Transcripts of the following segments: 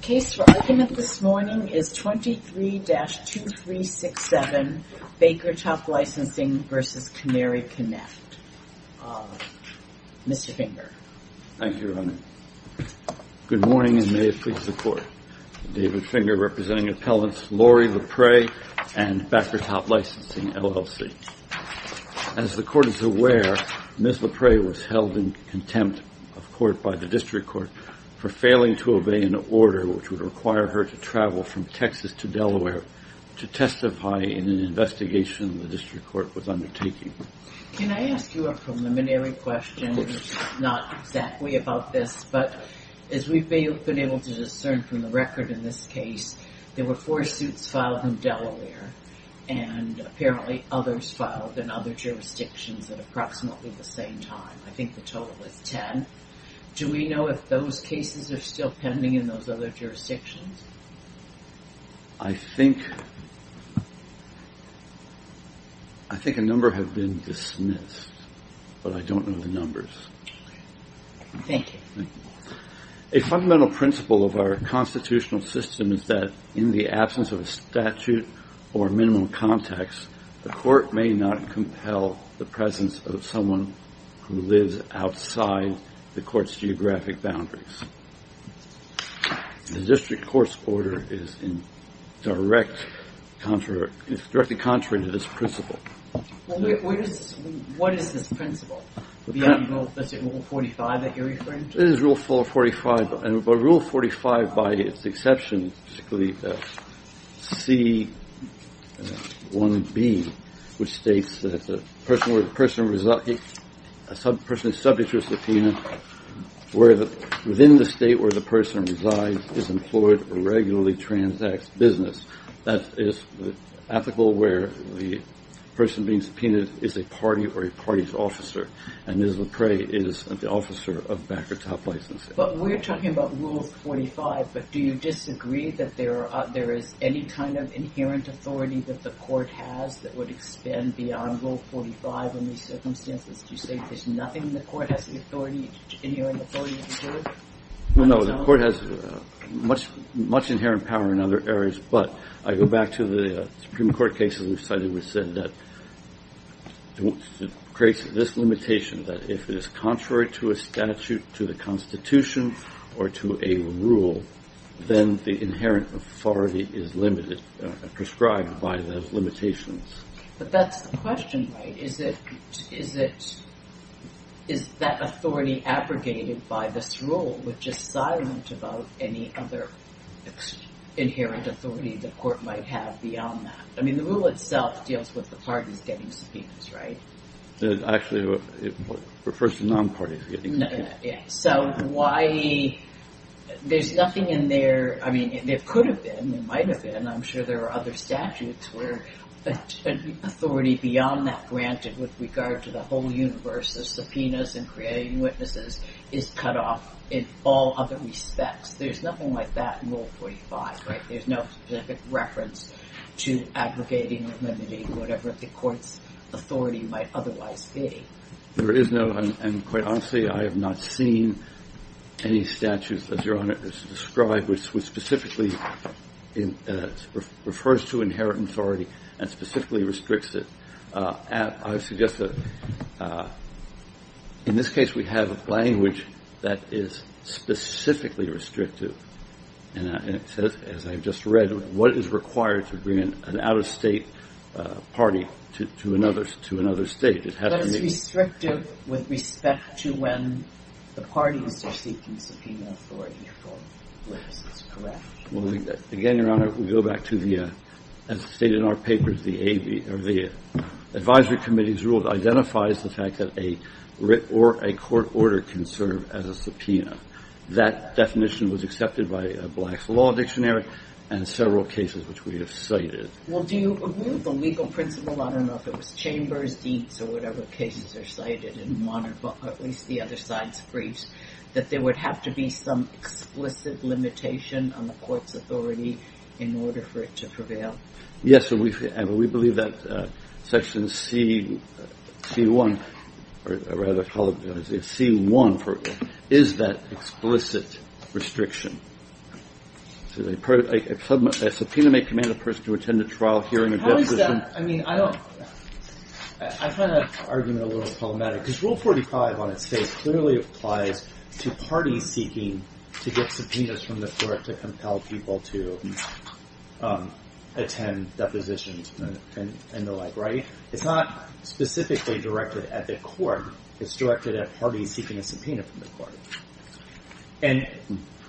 Case for argument this morning is 23-2367 Bakertop Licensing v. Canary Connect. Mr. Finger. Thank you, Your Honor. Good morning and may it please the Court. David Finger representing appellants Lori LaPre and Backertop Licensing, LLC. As the Court is aware, Ms. LaPre was charged with a misdemeanor which would require her to travel from Texas to Delaware to testify in an investigation the District Court was undertaking. Can I ask you a preliminary question? Not exactly about this, but as we've been able to discern from the record in this case, there were four suits filed in Delaware and apparently others filed in other jurisdictions at approximately the same time. I think the total is ten. Do we know if those cases are still pending in those other jurisdictions? I think a number have been dismissed, but I don't know the numbers. Thank you. A fundamental principle of our constitutional system is that in the absence of a statute or minimal context, the Court may not compel the presence of someone who lives outside the Court's geographic boundaries. The District Court's order is directly contrary to this principle. What is this principle? Is it Rule 45 that you're referring to? It is Rule 45, but Rule 45, by its exception, is C-1B, which states that a person subject to a subpoena within the state where the person resides is employed or regularly transacts business. That is ethical where the person being subpoenaed is a party or a party's officer, and Ms. LePray is the officer of back-or-top licensing. But we're talking about Rule 45, but do you disagree that there is any kind of inherent authority that the Court has that would expand beyond Rule 45 in these circumstances? Do you say there's nothing the Court has of inherent authority to do? No, the Court has much inherent power in other areas, but I go back to the Supreme Court cases we've cited, which said that it creates this limitation that if it is contrary to a statute, to the Constitution, or to a rule, then the inherent authority is limited, prescribed by those limitations. But that's the question, right? Is that authority abrogated by this rule, which is silent about any other inherent authority the Court might have beyond that? I mean, the rule itself deals with the parties getting subpoenas, right? Actually, it refers to non-parties getting subpoenas. So why, there's nothing in there, I mean, there could have been, there might have been, I'm sure there are other statutes where authority beyond that granted with regard to the whole universe of subpoenas and creating witnesses is cut off in all other respects. There's nothing like that in Rule 45, right? There's no specific reference to abrogating or limiting whatever the Court's authority might otherwise be. There is no, and quite honestly, I have not seen any statute, as Your Honor has described, which specifically refers to inherent authority and specifically restricts it. I suggest that in this case we have a language that is specifically restrictive, and it says, as I've just read, what is required to bring an out-of-state party to another state. But it's restrictive with respect to when the parties are seeking subpoena authority for witnesses, correct? Well, again, Your Honor, we go back to the, as stated in our papers, the advisory committee's rule identifies the fact that a court order can serve as a subpoena. That definition was accepted by Black's Law Dictionary and several cases which we have cited. Well, do you agree with the legal principle, I don't know if it was chambers, deans, or whatever cases are cited in one or at least the other side's briefs, that there would have to be some explicit limitation on the Court's authority in order for it to prevail? Yes, and we believe that Section C1, or rather, C1, is that explicit restriction. A subpoena may command a person to attend a trial hearing a deposition. How is that, I mean, I don't, I find that argument a little problematic, because Rule 45 on its face clearly applies to parties seeking to get subpoenas from the Court to compel people to attend depositions and the like, right? It's not specifically directed at the Court, it's directed at parties seeking a subpoena from the Court. And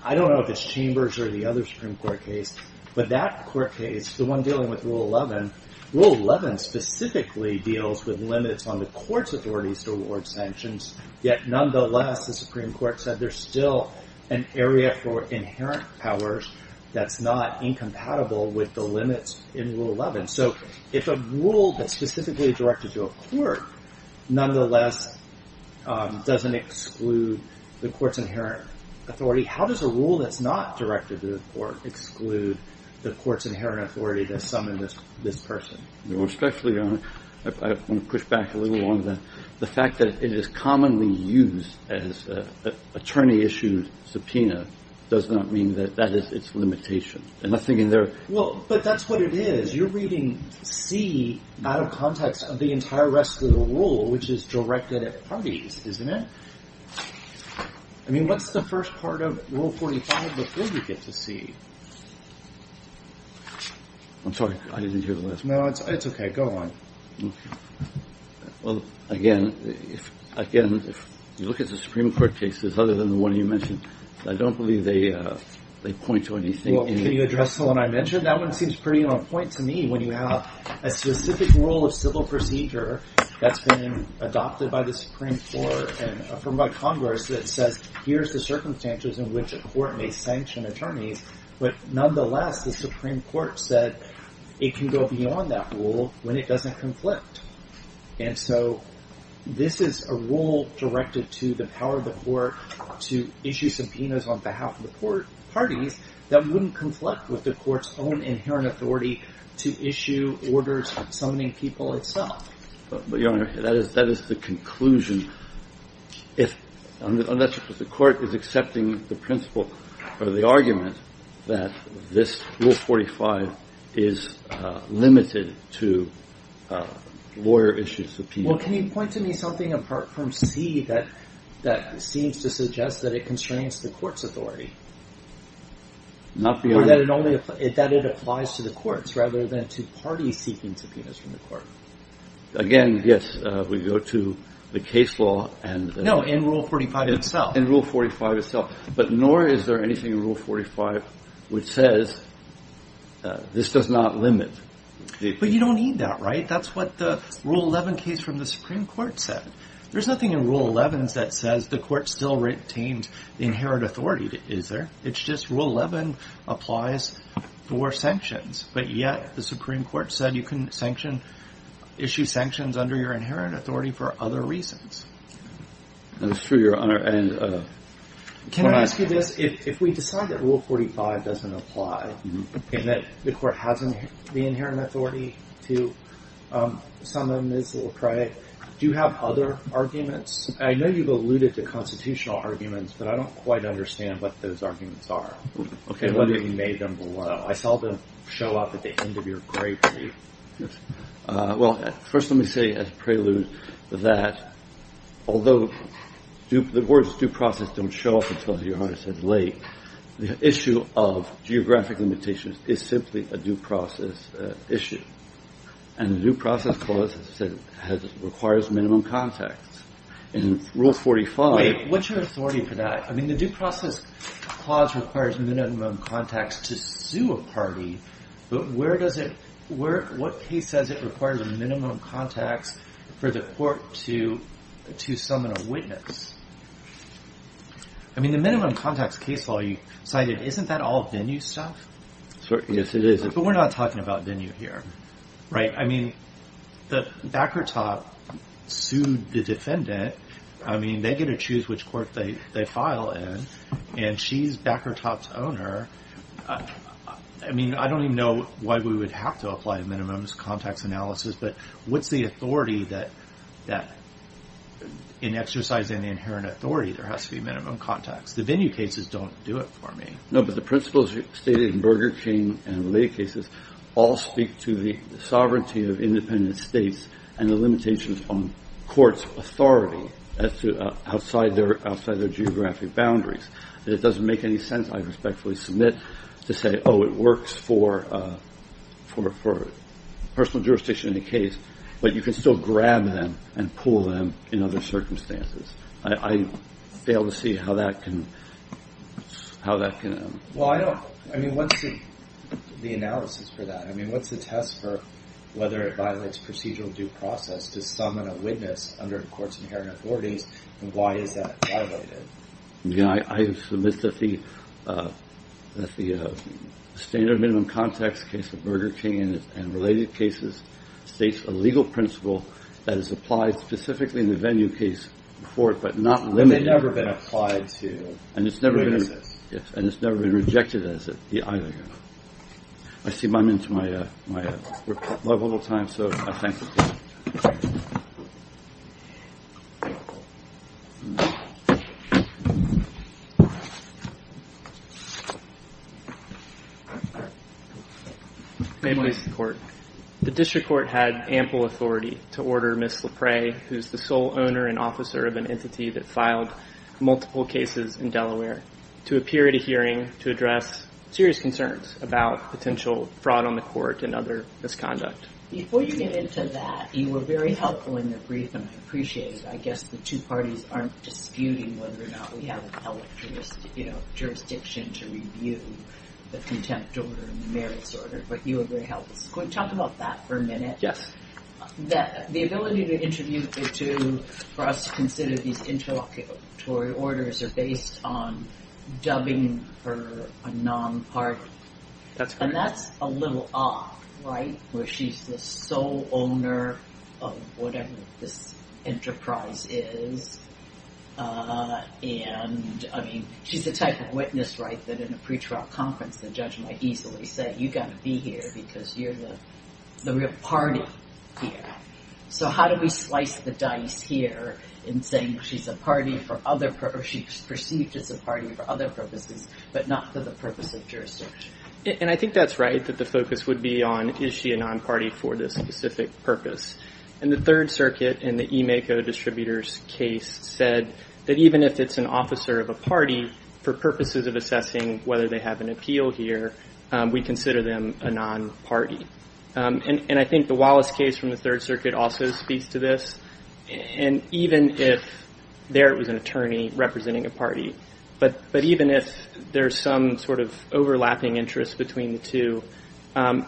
I don't know if it's chambers or the other Supreme Court case, but that Court case, the one dealing with Rule 11, Rule 11 specifically deals with limits on the Court's authority to award sanctions, yet nonetheless the Supreme Court said there's still an area for inherent powers that's not incompatible with the limits in Rule 11. So if a rule that's specifically directed to a Court nonetheless doesn't exclude the Court's inherent authority, how does a rule that's not directed to the Court exclude the Court's inherent authority to summon this person? Well, especially, Your Honor, I want to push back a little on that. The fact that it is commonly used as an attorney-issued subpoena does not mean that that is its limitation. And I'm thinking there are... Well, but that's what it is. You're reading C out of context of the entire rest of the rule, which is directed at parties, isn't it? I mean, what's the first part of Rule 145 before we get to C? I'm sorry. I didn't hear the last part. No, it's okay. Go on. Well, again, if you look at the Supreme Court cases other than the one you mentioned, I don't believe they point to anything. Well, can you address the one I mentioned? That one seems pretty on point to me when you have a specific rule of civil procedure that's been adopted by the Supreme Court and affirmed by Congress that says, here's the circumstances in which a court may sanction attorneys, but nonetheless, the Supreme Court said it can go beyond that rule when it doesn't conflict. And so this is a rule directed to the power of the Court to issue subpoenas on behalf of the parties that wouldn't conflict with the Court's own inherent authority to issue orders summoning people itself. But, Your Honor, that is the conclusion. Unless the Court is accepting the principle or the argument that this Rule 145 is limited to lawyer-issued subpoenas. Well, can you point to me something apart from C that seems to suggest that it constrains the Court's authority? Not beyond... Again, yes, we go to the case law and... No, in Rule 45 itself. In Rule 45 itself. But nor is there anything in Rule 45 which says this does not limit... But you don't need that, right? That's what the Rule 11 case from the Supreme Court said. There's nothing in Rule 11 that says the Court still retained the inherent authority, is there? It's just Rule 11 applies for sanctions, but yet the Supreme Court said you can issue sanctions under your inherent authority for other reasons. That is true, Your Honor, and... Can I ask you this? If we decide that Rule 45 doesn't apply and that the Court has the inherent authority to summon Ms. Lecrae, do you have other arguments? I know you've alluded to constitutional arguments, but I don't quite understand what those arguments are. Okay, what if you made them below? I saw them show up at the end of your great brief. Well, first let me say as a prelude that although the words due process don't show up until Your Honor says late, the issue of geographic limitations is simply a due process issue. And the due process clause requires minimum contacts. In Rule 45... Wait, what's your authority for that? I mean, the due process clause requires minimum contacts to sue a party, but what case says it requires minimum contacts for the Court to summon a witness? I mean, the minimum contacts case law you cited, isn't that all venue stuff? Yes, it is. But we're not talking about venue here, right? I mean, Backertop sued the defendant. I mean, they get to choose which court they file in, and she's Backertop's owner. I mean, I don't even know why we would have to apply minimums, contacts analysis, but what's the authority that in exercising the inherent authority there has to be minimum contacts? The venue cases don't do it for me. No, but the principles stated in Burger King and related cases all speak to the sovereignty of independent states and the limitations on courts' authority outside their geographic boundaries. And it doesn't make any sense, I respectfully submit, to say, oh, it works for personal jurisdiction in a case, but you can still grab them and pull them in other circumstances. I fail to see how that can... Well, I don't... I mean, what's the analysis for that? I mean, what's the test for whether it violates procedural due process to summon a witness under a court's inherent authorities, and why is that violated? I submit that the standard minimum contacts case of Burger King and related cases states a legal principle that is applied specifically in the venue case before it, but not limited... But they've never been applied to... And it's never been... ...a witness. Yes, and it's never been rejected as it... either. I see I'm into my reputable time, so I thank the Court. May it please the Court. The District Court had ample authority to order Ms. LaPre, who's the sole owner and officer of an entity that filed multiple cases in Delaware, to appear at a hearing to address serious concerns about potential fraud on the Court and other misconduct. Before you get into that, you were very helpful in the brief, and I appreciate it. I guess the two parties aren't disputing whether or not we have a public jurisdiction to review the contempt order and the merits order, but you were very helpful. Can we talk about that for a minute? Yes. The ability to interview the two for us to consider these interlocutory orders are based on dubbing her a non-party. That's correct. And that's a little odd, right, where she's the sole owner of whatever this enterprise is. And, I mean, she's the type of witness, right, that in a pre-trial conference the judge might easily say, you've got to be here because you're the real party here. So how do we slice the dice here in saying she's a party for other purposes, or she's perceived as a party for other purposes, but not for the purpose of jurisdiction? And I think that's right, that the focus would be on is she a non-party for this specific purpose. And the Third Circuit, in the Emaco Distributors case, said that even if it's an officer of a party, for purposes of assessing whether they have an appeal here, we consider them a non-party. And I think the Wallace case from the Third Circuit also speaks to this. And even if there it was an attorney representing a party, but even if there's some sort of overlapping interest between the two,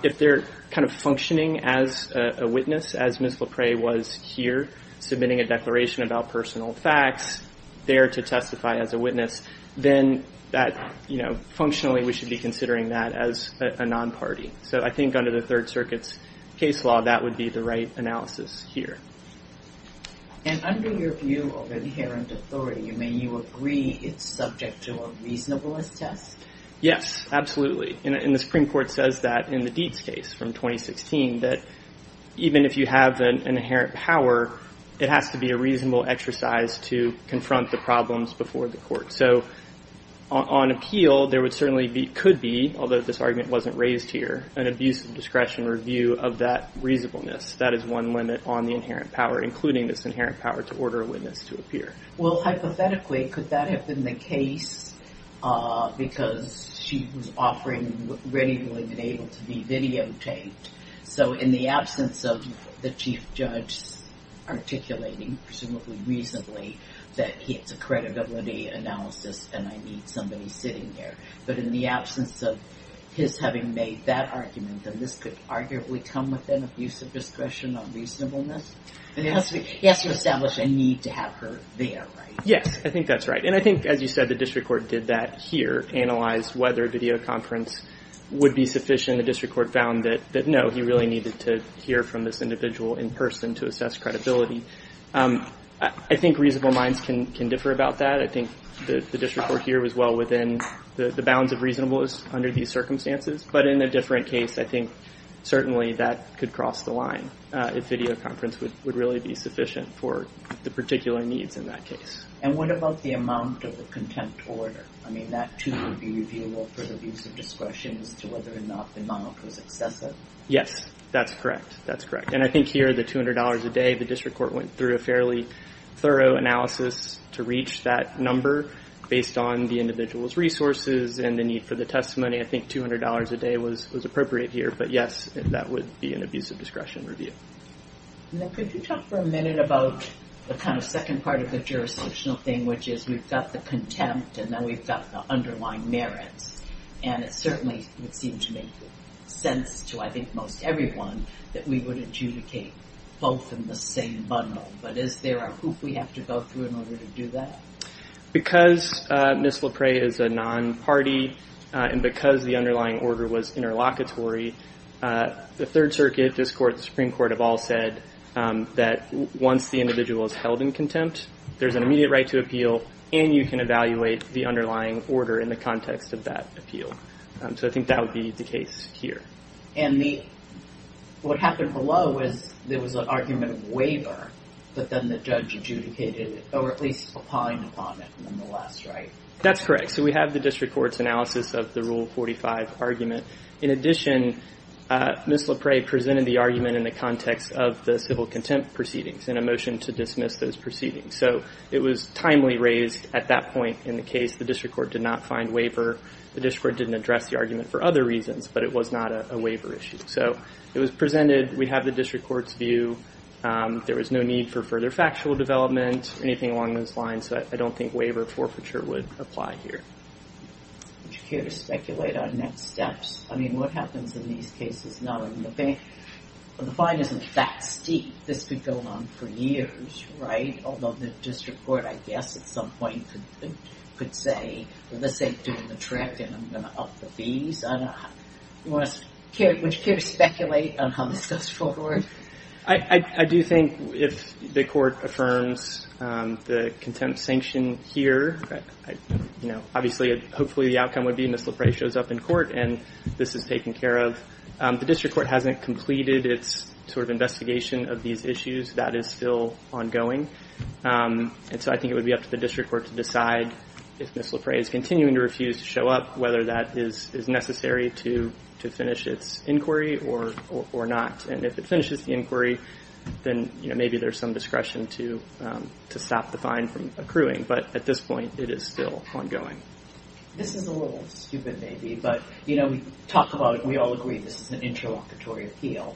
if they're kind of functioning as a witness, as Ms. LePray was here submitting a declaration about personal facts, there to testify as a witness, then that, you know, functionally we should be considering that as a non-party. So I think under the Third Circuit's case law, that would be the right analysis here. And under your view of inherent authority, you mean you agree it's subject to a reasonableness test? Yes, absolutely. And the Supreme Court says that in the Dietz case from 2016, that even if you have an inherent power, it has to be a reasonable exercise to confront the problems before the court. So on appeal, there would certainly be, could be, although this argument wasn't raised here, an abuse of discretion review of that reasonableness. That is one limit on the inherent power, including this inherent power to order a witness to appear. Well, hypothetically, could that have been the case because she was offering readily and able to be videotaped? So in the absence of the chief judge articulating, presumably reasonably, that it's a credibility analysis and I need somebody sitting there. But in the absence of his having made that argument, then this could arguably come within abuse of discretion on reasonableness? And he has to establish a need to have her there, right? Yes, I think that's right. And I think, as you said, the district court did that here, analyzed whether videoconference would be sufficient. The district court found that no, he really needed to hear from this individual in person to assess credibility. I think reasonable minds can differ about that. I think the district court here was well within the bounds of reasonableness under these circumstances. But in a different case, I think certainly that could cross the line if videoconference would really be sufficient for the particular needs in that case. And what about the amount of the contempt order? I mean, that too would be reviewable for the abuse of discretion as to whether or not the amount was excessive? Yes, that's correct. That's correct. And I think here, the $200 a day, the district court went through a fairly thorough analysis to reach that number based on the individual's resources and the need for the testimony. I think $200 a day was appropriate here. But yes, that would be an abuse of discretion review. Now, could you talk for a minute about the kind of second part of the jurisdictional thing, which is we've got the contempt and then we've got the underlying merits. And it certainly would seem to make sense to, I think, most everyone that we would adjudicate both in the same bundle. But is there a hoop we have to go through in order to do that? Because Ms. LePray is a non-party and because the underlying order was interlocutory, the Supreme Court have all said that once the individual is held in contempt, there's an immediate right to appeal and you can evaluate the underlying order in the context of that appeal. So I think that would be the case here. And what happened below was there was an argument of waiver, but then the judge adjudicated it, or at least opined upon it nonetheless, right? That's correct. So we have the district court's analysis of the Rule 45 argument. In addition, Ms. LePray presented the argument in the context of the civil contempt proceedings in a motion to dismiss those proceedings. So it was timely raised at that point in the case. The district court did not find waiver. The district court didn't address the argument for other reasons, but it was not a waiver issue. So it was presented. We have the district court's view. There was no need for further factual development or anything along those lines. So I don't think waiver forfeiture would apply here. Would you care to speculate on next steps? I mean, what happens in these cases? The fine isn't that steep. This could go on for years, right? Although the district court, I guess, at some point could say, well, this ain't doing the trick and I'm going to up the fees. Would you care to speculate on how this goes forward? I do think if the court affirms the contempt sanction here, obviously, hopefully the outcome would be Ms. LePray shows up in court and this is taken care of. The district court hasn't completed its sort of investigation of these issues. That is still ongoing. And so I think it would be up to the district court to decide if Ms. LePray is continuing to refuse to show up, whether that is necessary to finish its inquiry or not. And if it finishes the inquiry, then maybe there is some discretion to stop the fine from accruing. But at this point, it is still ongoing. This is a little stupid maybe, but we all agree this is an interlocutory appeal.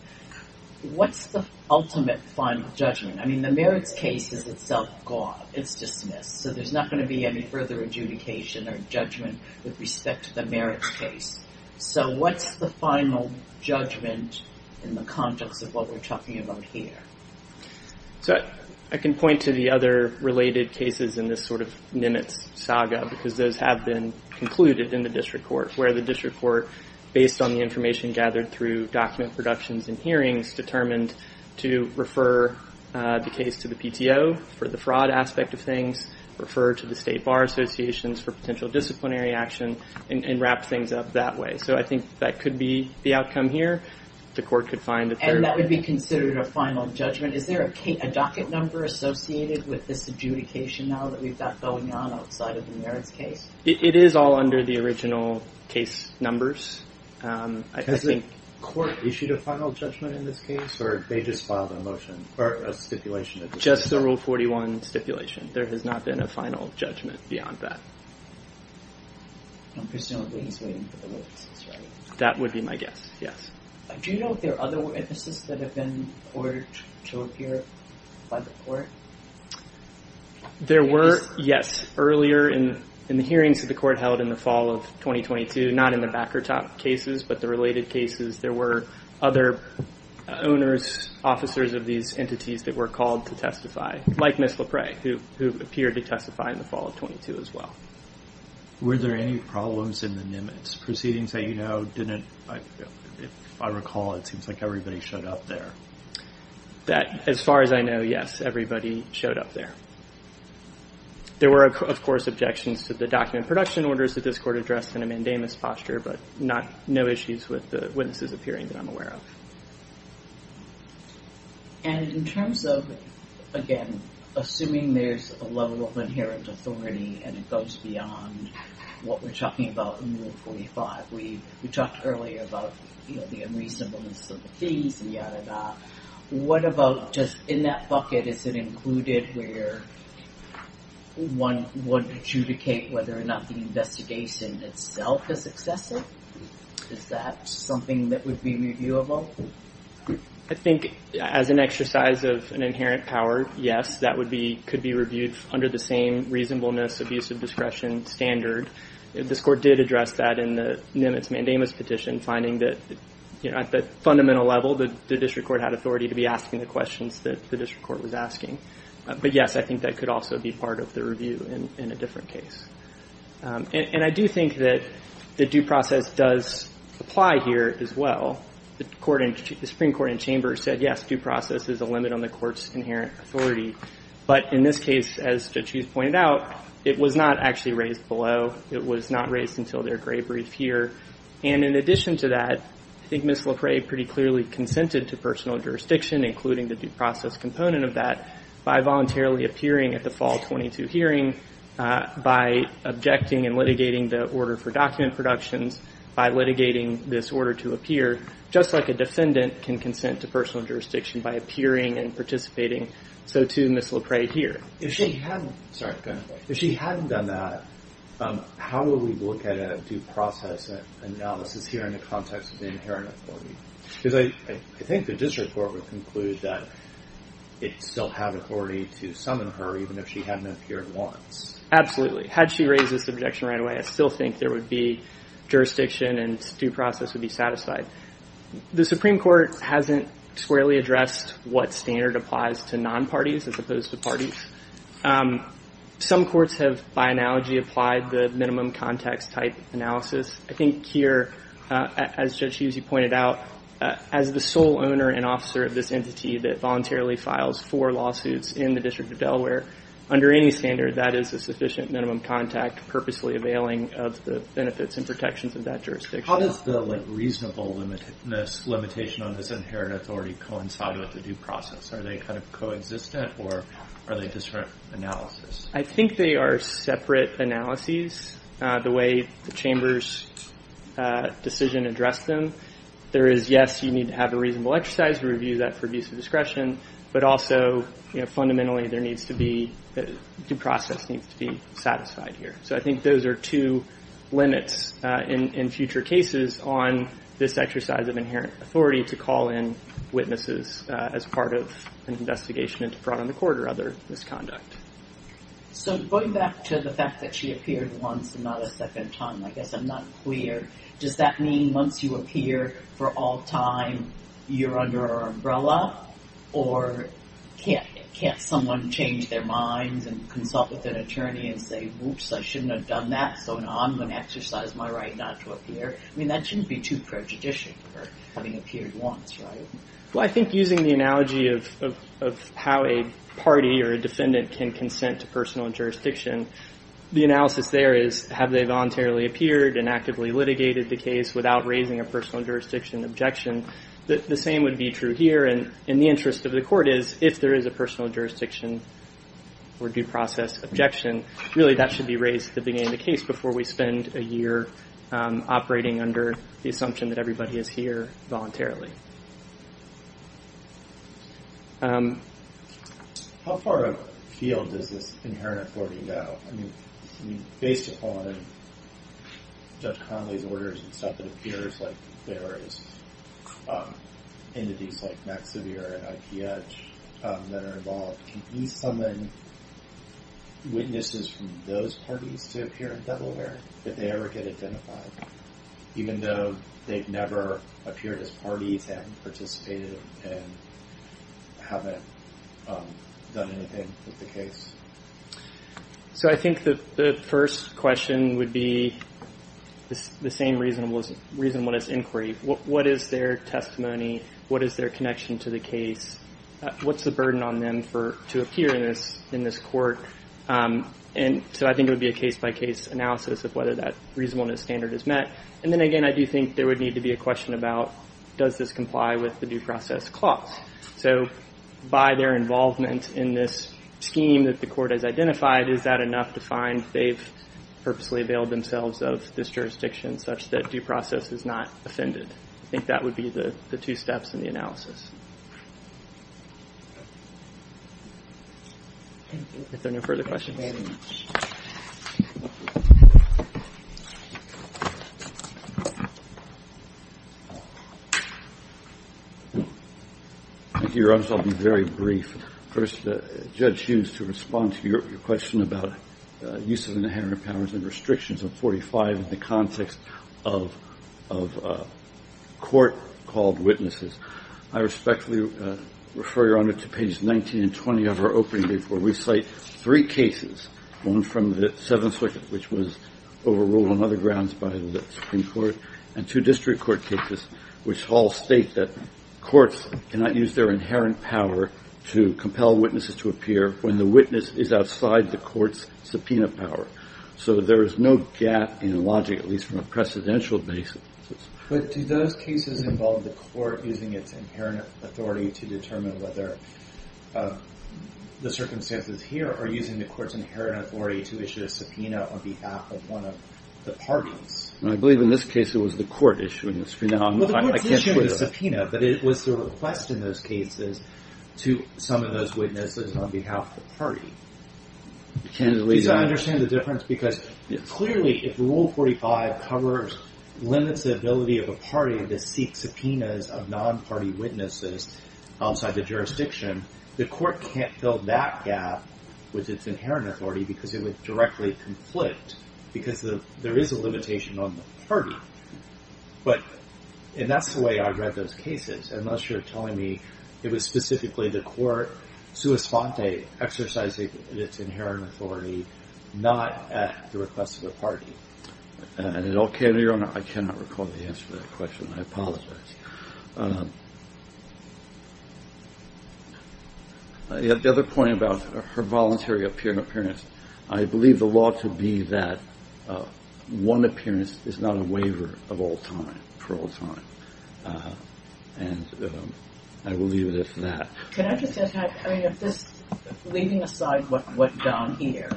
What's the ultimate final judgment? I mean, the merits case is itself gone. It's dismissed. So there is not going to be any further adjudication or judgment with respect to the merits case. So what's the final judgment in the context of what we are talking about here? I can point to the other related cases in this sort of Nimitz saga because those have been concluded in the district court, where the district court, based on the information gathered through document productions and hearings, determined to refer the case to the PTO for the fraud aspect of things, refer to the state bar associations for potential disciplinary action, and wrap things up that way. So I think that could be the outcome here. The court could find that there... And that would be considered a final judgment. Is there a docket number associated with this adjudication now that we've got going on outside of the merits case? It is all under the original case numbers. Has the court issued a final judgment in this case, or they just filed a motion, or a stipulation? Just the Rule 41 stipulation. There has not been a final judgment beyond that. Presumably he's waiting for the witnesses, right? That would be my guess, yes. Do you know if there are other witnesses that have been ordered to appear by the court? There were, yes. Earlier in the hearings that the court held in the fall of 2022, not in the back or top cases, but the related cases, there were other owners, officers of these cases, who appeared to testify, like Ms. LePray, who appeared to testify in the fall of 22 as well. Were there any problems in the Nimitz proceedings that you know didn't... If I recall, it seems like everybody showed up there. As far as I know, yes. Everybody showed up there. There were, of course, objections to the document production orders that this court addressed in a mandamus posture, but no issues with the witnesses appearing that I'm aware of. And in terms of, again, assuming there's a level of inherent authority and it goes beyond what we're talking about in Rule 45, we talked earlier about the unreasonableness of the fees and yada yada. What about just in that bucket, is it included where one would adjudicate whether or not the investigation itself is excessive? Is that something that would be reviewable? I think as an exercise of an inherent power, yes, that could be reviewed under the same reasonableness, abuse of discretion standard. This court did address that in the Nimitz mandamus petition, finding that at the fundamental level, the district court had authority to be asking the questions that the district court was asking. But yes, I think that could also be part of the review in a different case. And I do think that the due process does apply here as well. The Supreme Court in chamber said, yes, due process is a limit on the court's inherent authority. But in this case, as Judge Hughes pointed out, it was not actually raised below. It was not raised until their gray brief here. And in addition to that, I think Ms. Lafray pretty clearly consented to personal jurisdiction, including the due process component of that, by voluntarily appearing at the fall 22 hearing, by objecting and litigating the order for document productions, by litigating this order to appear, just like a defendant can consent to personal jurisdiction by appearing and participating. So too, Ms. Lafray here. If she hadn't done that, how would we look at a due process analysis here in the context of the inherent authority? Because I think the district court would conclude that it still had authority to summon her even if she hadn't appeared once. Absolutely. Had she raised this objection right away, I still think there would be jurisdiction and due process would be satisfied. The Supreme Court hasn't squarely addressed what standard applies to non-parties as opposed to parties. Some courts have, by analogy, applied the minimum context type of analysis. I think here, as Judge Hughes, you pointed out, as the sole owner and officer of this entity that voluntarily files for lawsuits in the District of Delaware, under any standard, that is a sufficient minimum contact purposely availing of the benefits and protections of that jurisdiction. How does the reasonable limitation on this inherent authority coincide with the due process? Are they kind of coexistent or are they different analysis? I think they are separate analyses. The way the Chamber's decision addressed them, there is, yes, you need to have a reasonable exercise to review that for abuse of discretion, but also, fundamentally, due process needs to be satisfied here. I think those are two limits in future cases on this exercise of inherent authority to call in witnesses as part of an investigation into fraud on the court or other misconduct. So going back to the fact that she appeared once and not a second time, I guess I'm not clear. Does that mean once you appear for all time, you're under our umbrella? Or can't someone change their minds and consult with an attorney and say, whoops, I shouldn't have done that, so now I'm going to exercise my right not to appear? I mean, that shouldn't be too prejudicial for having appeared once, right? Well, I think using the analogy of how a party or a defendant can consent to personal jurisdiction, the analysis there is, have they voluntarily appeared and actively litigated the case without raising a personal jurisdiction objection? The same would be true here. And the interest of the court is, if there is a personal jurisdiction or due process objection, really that should be raised at the beginning of the case before we spend a year operating under the assumption that everybody is here voluntarily. How far afield does this inherent authority go? I mean, based upon Judge Conley's orders and stuff, it appears like there is entities like Max Sevier and IP Edge that are involved. Can you summon witnesses from those parties to appear in this case even though they've never appeared as parties, haven't participated, and haven't done anything with the case? So I think the first question would be the same reasonableness inquiry. What is their testimony? What is their connection to the case? What's the burden on them to appear in this court? And so I think it would be a case-by-case analysis of whether that reasonableness standard is met. And then, again, I do think there would need to be a question about, does this comply with the due process clause? So by their involvement in this scheme that the court has identified, is that enough to find they've purposely availed themselves of this jurisdiction such that due process is not offended? I think that would be the two steps in the analysis. If there are no further questions, I'll be very brief. First, Judge Hughes, to respond to your question about uses of inherent powers and restrictions of 45 in the context of court-called witnesses, I respond by saying we cite three cases, one from the Seventh Circuit, which was overruled on other grounds by the Supreme Court, and two district court cases, which all state that courts cannot use their inherent power to compel witnesses to appear when the witness is outside the court's subpoena power. So there is no gap in logic, at least from a precedential basis. But do those cases involve the court using its inherent authority to determine whether the circumstances here are using the court's inherent authority to issue a subpoena on behalf of one of the parties? I believe in this case it was the court issuing the subpoena, but it was the request in those cases to some of those witnesses on behalf of the party. Please understand the difference, because clearly if Rule 45 limits the ability of a party to seek subpoenas of non-party witnesses outside the jurisdiction, the court can't fill that gap with its inherent authority because it would directly conflict, because there is a limitation on the party. And that's the way I read those cases, unless you're telling me it was specifically the court, sua sponte, exercising its inherent authority, not at the request of the party. I cannot recall the answer to that question. I apologize. The other point about her voluntary appearance, I believe the law to be that one appearance is not a waiver of all time, parole time. And I will leave it at that. Can I just ask, leaving aside what we've done here,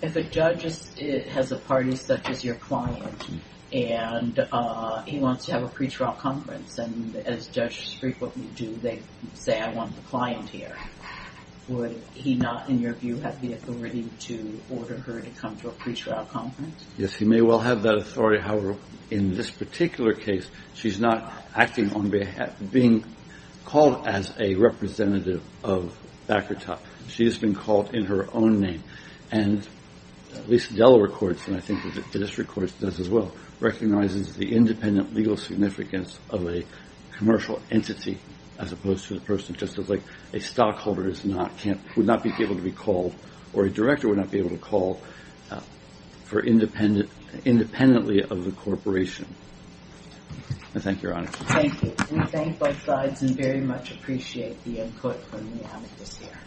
if a judge has a party such as your client and he wants to have a pretrial conference, and as judges frequently do, they say, I want the client here, would he not, in your view, have the authority to order her to come to a case? She's not acting on behalf, being called as a representative of Baccarat. She has been called in her own name. And at least Delaware courts, and I think the district courts does as well, recognizes the independent legal significance of a commercial entity as opposed to the person, just as like a stockholder would not be able to be called, or a director would not be able to call for independently of the corporation. Thank you, Your Honor. Thank you. We thank both sides and very much appreciate the input when we have it this year.